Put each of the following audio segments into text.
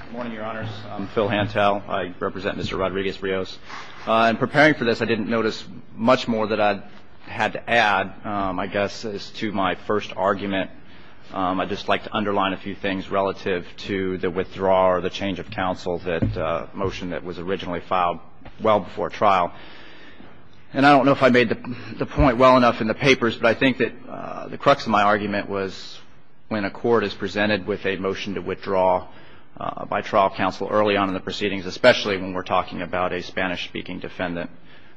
Good morning, Your Honors. I'm Phil Hantel. I represent Mr. Rodriguez-Rios. In preparing for this, I didn't notice much more that I had to add, I guess, as to my first argument. I'd just like to underline a few things relative to the withdrawal or the change of counsel motion that was originally filed well before trial. And I don't know if I made the point well enough in the papers, but I think that the crux of my argument was when a court is presented with a motion to withdraw by trial counsel early on in the proceedings, especially when we're talking about a Spanish-speaking defendant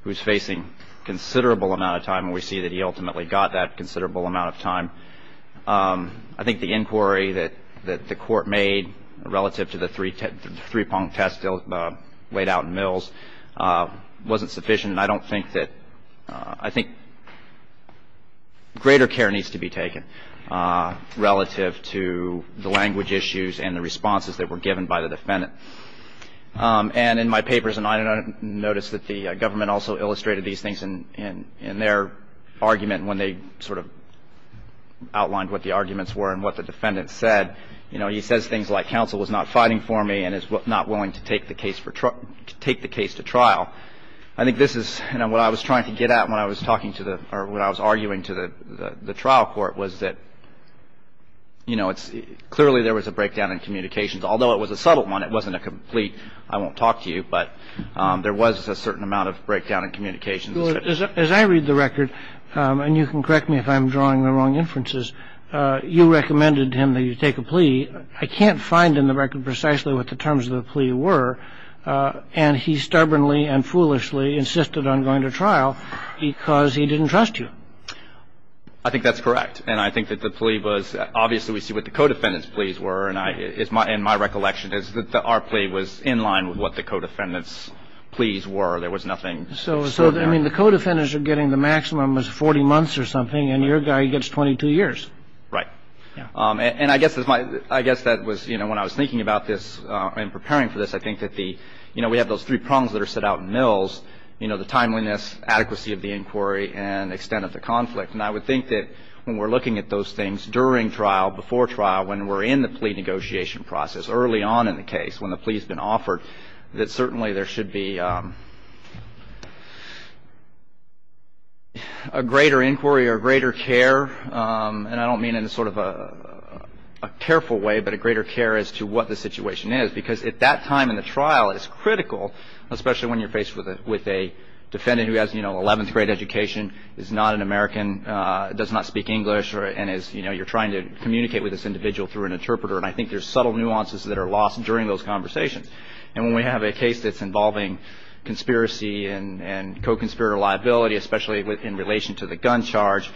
who's facing considerable amount of time, and we see that he ultimately got that considerable amount of time. I think the inquiry that the court made relative to the three-pong test laid out in Mills wasn't sufficient. And I don't think that – I think greater care needs to be taken relative to the language issues and the responses that were given by the defendant. And in my papers, and I noticed that the government also illustrated these things in their argument when they sort of outlined what the arguments were and what the defendant said. You know, he says things like counsel was not fighting for me and is not willing to take the case to trial. I think this is – you know, what I was trying to get at when I was talking to the – or when I was arguing to the trial court was that, you know, it's – clearly there was a breakdown in communications. Although it was a subtle one, it wasn't a complete I won't talk to you, but there was a certain amount of breakdown in communications. As I read the record, and you can correct me if I'm drawing the wrong inferences, you recommended to him that you take a plea. I can't find in the record precisely what the terms of the plea were. And he stubbornly and foolishly insisted on going to trial because he didn't trust you. I think that's correct. And I think that the plea was – obviously we see what the co-defendants' pleas were. And I – and my recollection is that our plea was in line with what the co-defendants' pleas were. There was nothing – So, I mean, the co-defendants are getting the maximum as 40 months or something, and your guy gets 22 years. Right. And I guess that's my – I guess that was – you know, when I was thinking about this and preparing for this, I think that the – you know, we have those three prongs that are set out in Mills. You know, the timeliness, adequacy of the inquiry, and extent of the conflict. And I would think that when we're looking at those things during trial, before trial, when we're in the plea negotiation process, early on in the case when the plea's been offered, that certainly there should be a greater inquiry or greater care. And I don't mean in a sort of a careful way, but a greater care as to what the situation is. Because at that time in the trial, it's critical, especially when you're faced with a defendant who has, you know, 11th grade education, is not an American, does not speak English, and is – you know, you're trying to communicate with this individual through an interpreter. And I think there's subtle nuances that are lost during those conversations. And when we have a case that's involving conspiracy and co-conspirator liability, especially in relation to the gun charge,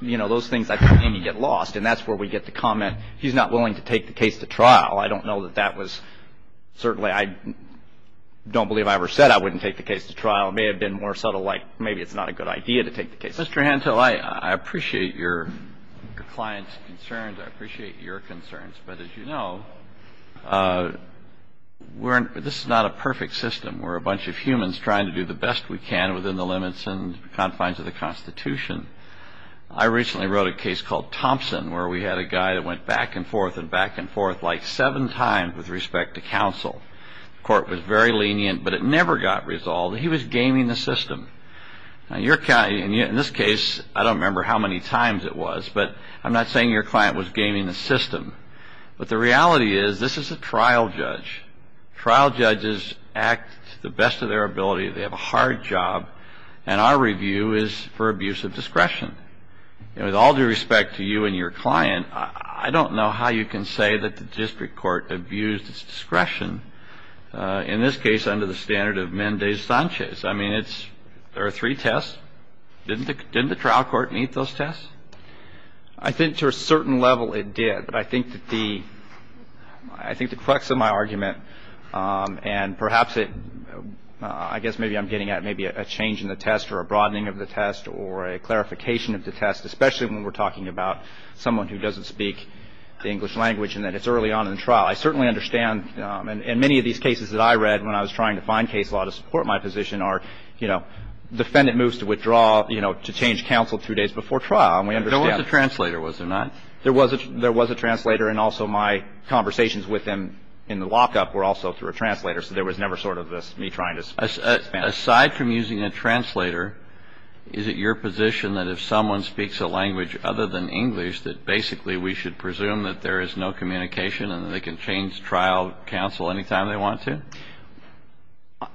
you know, those things, I think, get lost. And that's where we get the comment, he's not willing to take the case to trial. I don't know that that was – certainly I don't believe I ever said I wouldn't take the case to trial. It may have been more subtle, like maybe it's not a good idea to take the case to trial. Mr. Hantel, I appreciate your client's concerns. I appreciate your concerns. But as you know, we're – this is not a perfect system. We're a bunch of humans trying to do the best we can within the limits and confines of the Constitution. I recently wrote a case called Thompson, where we had a guy that went back and forth and back and forth like seven times with respect to counsel. The court was very lenient, but it never got resolved. He was gaming the system. Now, your – in this case, I don't remember how many times it was, but I'm not saying your client was gaming the system. But the reality is, this is a trial judge. Trial judges act to the best of their ability. They have a hard job. And our review is for abuse of discretion. And with all due respect to you and your client, I don't know how you can say that the district court abused its discretion, in this case under the standard of Mendez-Sanchez. I mean, it's – there are three tests. Didn't the trial court meet those tests? I think to a certain level it did. But I think that the – I think the crux of my argument, and perhaps it – I guess maybe I'm getting at maybe a change in the test or a broadening of the test or a clarification of the test, especially when we're talking about someone who doesn't speak the English language and that it's early on in the trial. I certainly understand – and many of these cases that I read when I was trying to find case law to support my position are, you know, defendant moves to withdraw, you know, to change counsel two days before trial. And we understand that. There was a translator, was there not? There was a translator. And also my conversations with him in the lockup were also through a translator. So there was never sort of this me trying to expand. Aside from using a translator, is it your position that if someone speaks a language other than English that basically we should presume that there is no communication and that they can change trial counsel anytime they want to?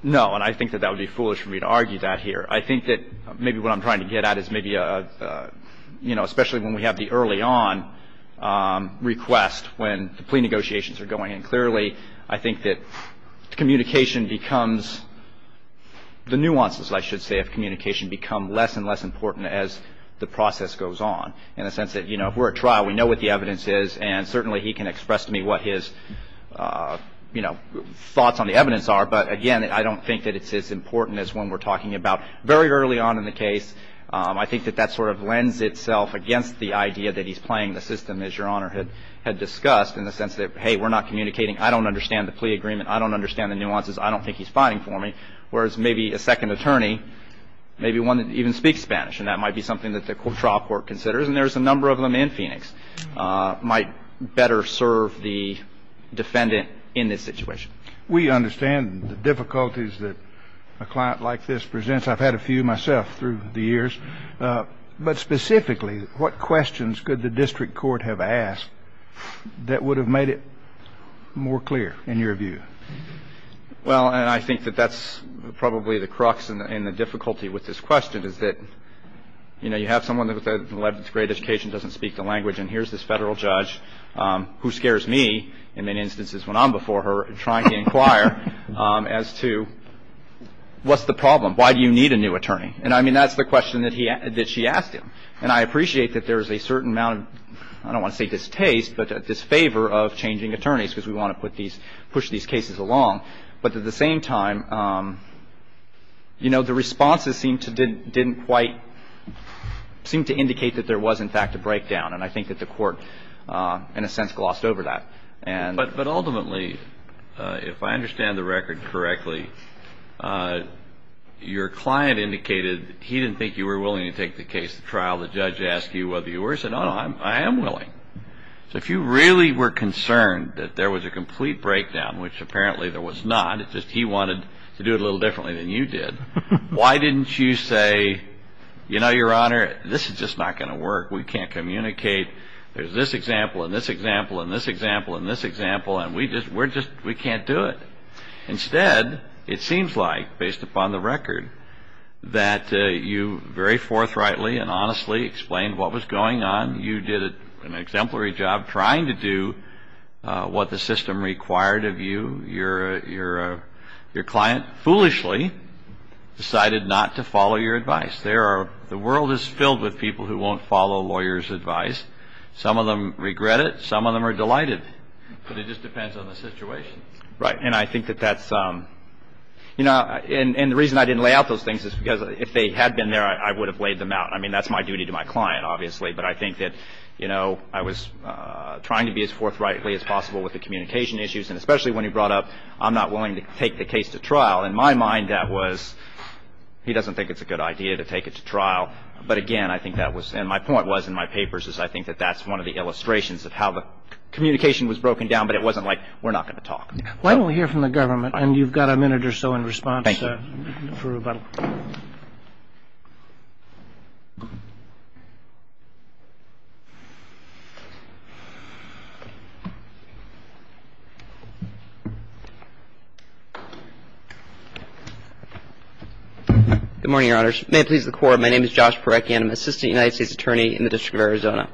No. And I think that that would be foolish for me to argue that here. I think that maybe what I'm trying to get at is maybe a, you know, especially when we have the early on request, when the plea negotiations are going in clearly, I think that communication becomes – the nuances, I should say, of communication become less and less important as the process goes on in the sense that, you know, if we're at trial, we know what the evidence is. And certainly he can express to me what his, you know, thoughts on the evidence are. But, again, I don't think that it's as important as when we're talking about very early on in the case. I think that that sort of lends itself against the idea that he's playing the system, as Your Honor had discussed, in the sense that, hey, we're not communicating. I don't understand the plea agreement. I don't understand the nuances. I don't think he's fighting for me. Whereas maybe a second attorney, maybe one that even speaks Spanish, and that might be something that the trial court considers, and there's a number of them in Phoenix, might better serve the defendant in this situation. We understand the difficulties that a client like this presents. I've had a few myself through the years. But specifically, what questions could the district court have asked that would have made it more clear, in your view? Well, and I think that that's probably the crux and the difficulty with this question, is that, you know, you have someone with an 11th grade education who doesn't speak the language, and here's this federal judge who scares me, in many instances when I'm before her, trying to inquire as to, what's the problem? Why do you need a new attorney? And, I mean, that's the question that she asked him. And I appreciate that there's a certain amount of, I don't want to say distaste, but disfavor of changing attorneys because we want to push these cases along. But at the same time, you know, the responses didn't quite seem to indicate that there was, in fact, a breakdown. And I think that the court, in a sense, glossed over that. But ultimately, if I understand the record correctly, your client indicated he didn't think you were willing to take the case to trial. The judge asked you whether you were. He said, no, no, I am willing. So if you really were concerned that there was a complete breakdown, which apparently there was not, it's just he wanted to do it a little differently than you did, why didn't you say, you know, Your Honor, this is just not going to work. We can't communicate. There's this example and this example and this example and this example, and we just can't do it. Instead, it seems like, based upon the record, that you very forthrightly and honestly explained what was going on. You did an exemplary job trying to do what the system required of you. Your client foolishly decided not to follow your advice. The world is filled with people who won't follow a lawyer's advice. Some of them regret it. Some of them are delighted. But it just depends on the situation. Right. And I think that that's, you know, and the reason I didn't lay out those things is because if they had been there, I would have laid them out. I mean, that's my duty to my client, obviously. But I think that, you know, I was trying to be as forthrightly as possible with the communication issues, and especially when he brought up I'm not willing to take the case to trial. In my mind, that was he doesn't think it's a good idea to take it to trial. But, again, I think that was and my point was in my papers is I think that that's one of the illustrations of how the communication was broken down, but it wasn't like we're not going to talk. Why don't we hear from the government? And you've got a minute or so in response for rebuttal. Thank you. Good morning, Your Honors. May it please the Court, my name is Josh Parecki, and I'm an assistant United States attorney in the District of Arizona.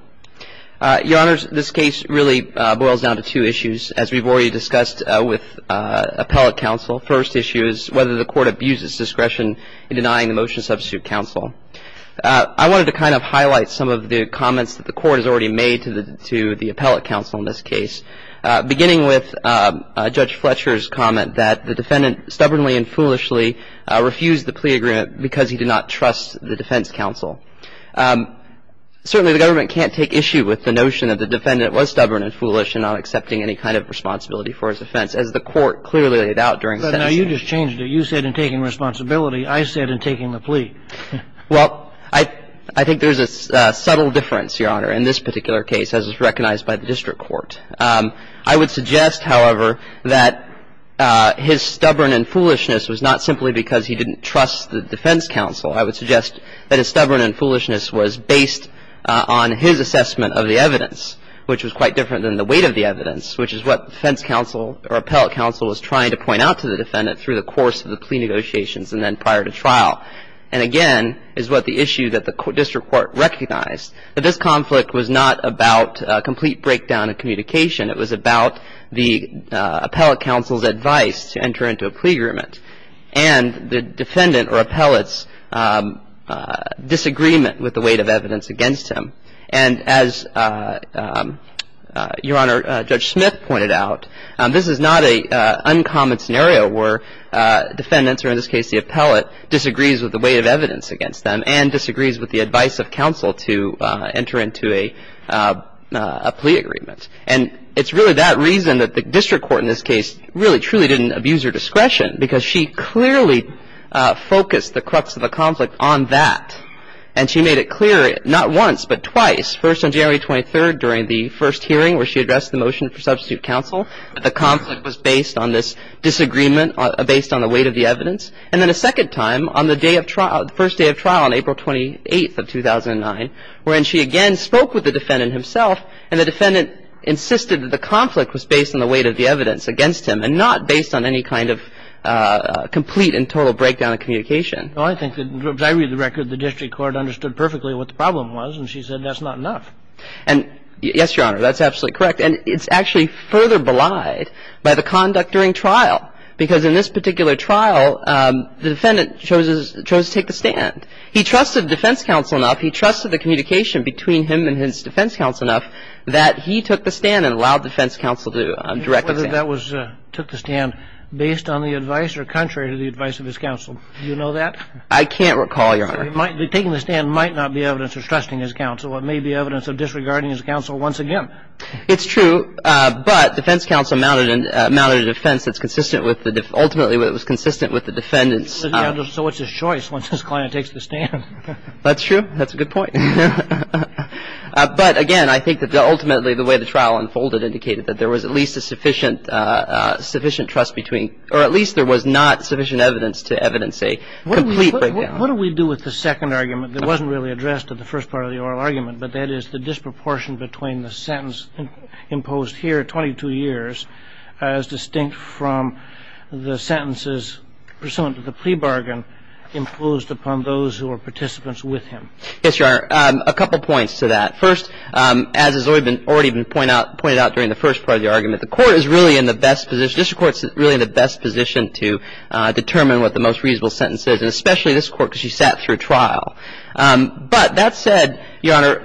Your Honors, this case really boils down to two issues. As we've already discussed with appellate counsel, first issue is whether the Court abuses discretion in denying the motion substitute counsel. I wanted to kind of highlight some of the comments that the Court has already made to the appellate counsel in this case, beginning with Judge Fletcher's comment that the defendant stubbornly and foolishly refused the plea agreement because he did not trust the defense counsel. Certainly, the government can't take issue with the notion that the defendant was stubborn and foolish and not accepting any kind of responsibility for his offense, as the Court clearly laid out during sentencing. But now you just changed it. You said in taking responsibility. I said in taking the plea. Well, I think there's a subtle difference, Your Honor, in this particular case, as is recognized by the district court. I would suggest, however, that his stubborn and foolishness was not simply because he didn't trust the defense counsel. I would suggest that his stubborn and foolishness was based on his assessment of the evidence, which was quite different than the weight of the evidence, which is what the defense counsel or appellate counsel was trying to point out to the defendant through the course of the plea negotiations and then prior to trial. And, again, is what the issue that the district court recognized, that this conflict was not about a complete breakdown of communication. It was about the appellate counsel's advice to enter into a plea agreement and the defendant or appellate's disagreement with the weight of evidence against him. And as Your Honor, Judge Smith pointed out, this is not an uncommon scenario where defendants, or in this case the appellate, disagrees with the weight of evidence against them and disagrees with the advice of counsel to enter into a plea agreement. And it's really that reason that the district court in this case really truly didn't abuse her discretion because she clearly focused the crux of the conflict on that. And she made it clear not once, but twice. First on January 23rd during the first hearing where she addressed the motion for substitute counsel that the conflict was based on this disagreement based on the weight of the evidence. And then a second time on the day of trial, the first day of trial on April 28th of 2009 when she again spoke with the defendant himself and the defendant insisted that the conflict was based on the weight of the evidence against him and not based on any kind of complete and total breakdown of communication. Well, I think that, as I read the record, the district court understood perfectly what the problem was and she said that's not enough. And yes, Your Honor, that's absolutely correct. And it's actually further belied by the conduct during trial because in this particular trial the defendant chose to take the stand. He trusted defense counsel enough. He trusted the communication between him and his defense counsel enough that he took the stand and allowed defense counsel to direct the stand. I don't know whether that was took the stand based on the advice or contrary to the advice of his counsel. Do you know that? I can't recall, Your Honor. Taking the stand might not be evidence of trusting his counsel. It may be evidence of disregarding his counsel once again. It's true. But defense counsel mounted a defense that's consistent with the ultimately it was consistent with the defendant's. So it's a choice once this client takes the stand. That's true. That's a good point. But again, I think that ultimately the way the trial unfolded indicated that there was at least a sufficient trust between or at least there was not sufficient evidence to evidence a complete breakdown. What do we do with the second argument that wasn't really addressed in the first part of the oral argument, but that is the disproportion between the sentence imposed here 22 years as distinct from the sentences pursuant to the plea bargain imposed upon those who were participants with him? Yes, Your Honor. A couple points to that. First, as has already been pointed out during the first part of the argument, the court is really in the best position, the district court is really in the best position to determine what the most reasonable sentence is, and especially this court because she sat through trial. But that said, Your Honor,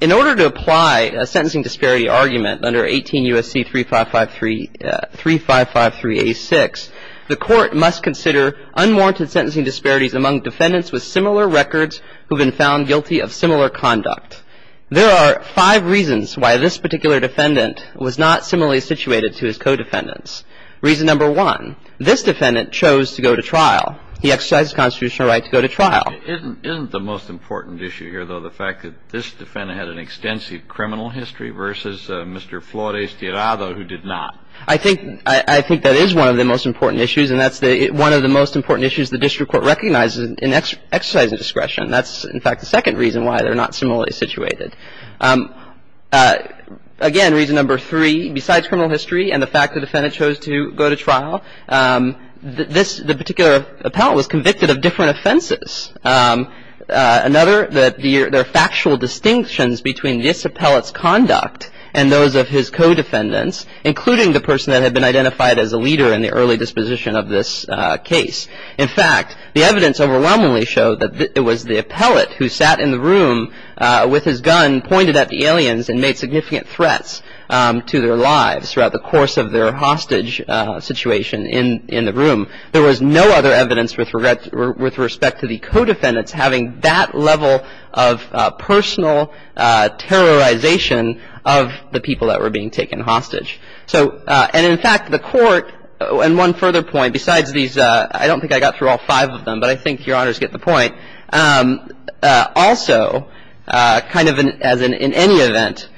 in order to apply a sentencing disparity argument under 18 U.S.C. 3553A6, the court must consider unwarranted sentencing disparities among defendants with similar records who have been found guilty of similar conduct. There are five reasons why this particular defendant was not similarly situated to his co-defendants. Reason number one, this defendant chose to go to trial. He exercised his constitutional right to go to trial. Isn't the most important issue here, though, the fact that this defendant had an extensive criminal history versus Mr. Flores Tirado who did not? I think that is one of the most important issues, and that's one of the most important issues the district court recognizes in exercising discretion. That's, in fact, the second reason why they're not similarly situated. Again, reason number three, besides criminal history and the fact the defendant chose to go to trial, this particular appellant was convicted of different offenses. Another, there are factual distinctions between this appellant's conduct and those of his co-defendants, including the person that had been identified as a leader in the early disposition of this case. In fact, the evidence overwhelmingly showed that it was the appellant who sat in the room with his gun pointed at the aliens and made significant threats to their lives throughout the course of their hostage situation in the room. There was no other evidence with respect to the co-defendants having that level of personal terrorization of the people that were being taken hostage. So, and in fact, the Court, and one further point, besides these, I don't think I got through all five of them, but I think Your Honors get the point. Also, kind of as in any event,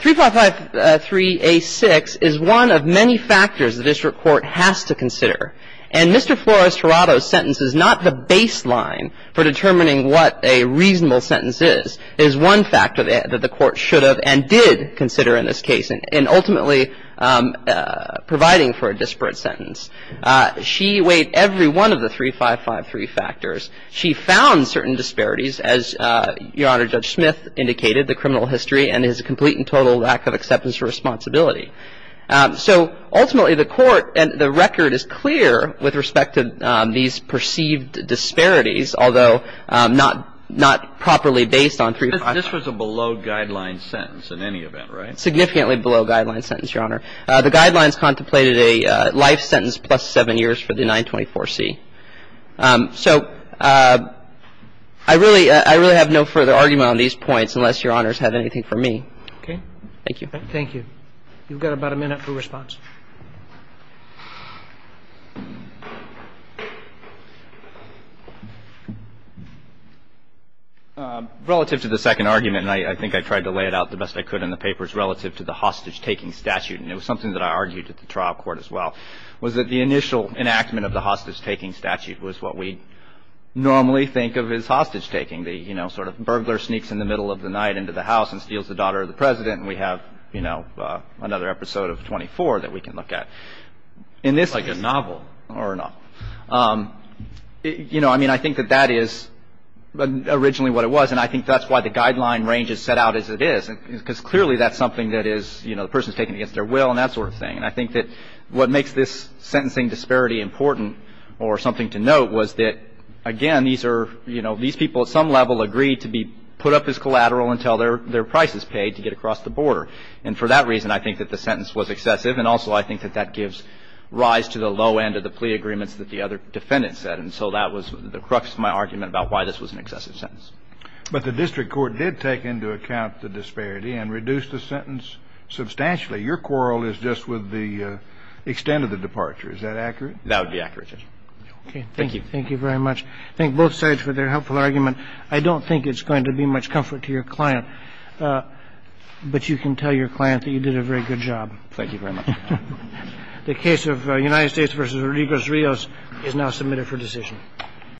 3553a6 is one of many factors the district court has to consider. And Mr. Flores-Torado's sentence is not the baseline for determining what a reasonable sentence is. It is one factor that the Court should have and did consider in this case, and ultimately providing for a disparate sentence. She weighed every one of the 3553 factors. She found certain disparities, as Your Honor, Judge Smith indicated, the criminal history and his complete and total lack of acceptance or responsibility. So ultimately, the Court and the record is clear with respect to these perceived disparities, although not properly based on 3553. This was a below-guideline sentence in any event, right? Significantly below-guideline sentence, Your Honor. The guidelines contemplated a life sentence plus seven years for the 924C. So I really have no further argument on these points unless Your Honors have anything from me. Okay. Thank you. Thank you. You've got about a minute for response. Relative to the second argument, and I think I tried to lay it out the best I could in the papers relative to the hostage-taking statute, and it was something that I argued at the trial court as well, was that the initial enactment of the hostage-taking statute was what we normally think of as hostage-taking, the, you know, sort of burglar sneaks in the middle of the night into the house and steals the daughter of the President and we have, you know, another episode of 24 that we can look at. Like a novel. Or a novel. You know, I mean, I think that that is originally what it was, and I think that's why the person is taken against their will and that sort of thing. And I think that what makes this sentencing disparity important or something to note was that, again, these are, you know, these people at some level agreed to be put up as collateral until their price is paid to get across the border. And for that reason, I think that the sentence was excessive, and also I think that that gives rise to the low end of the plea agreements that the other defendant said. And so that was the crux of my argument about why this was an excessive sentence. But the district court did take into account the disparity and reduced the sentence substantially. Your quarrel is just with the extent of the departure. Is that accurate? That would be accurate. Okay. Thank you. Thank you very much. Thank both sides for their helpful argument. I don't think it's going to be much comfort to your client, but you can tell your client that you did a very good job. Thank you very much. The case of United States v. Rodriguez-Rios is now submitted for decision.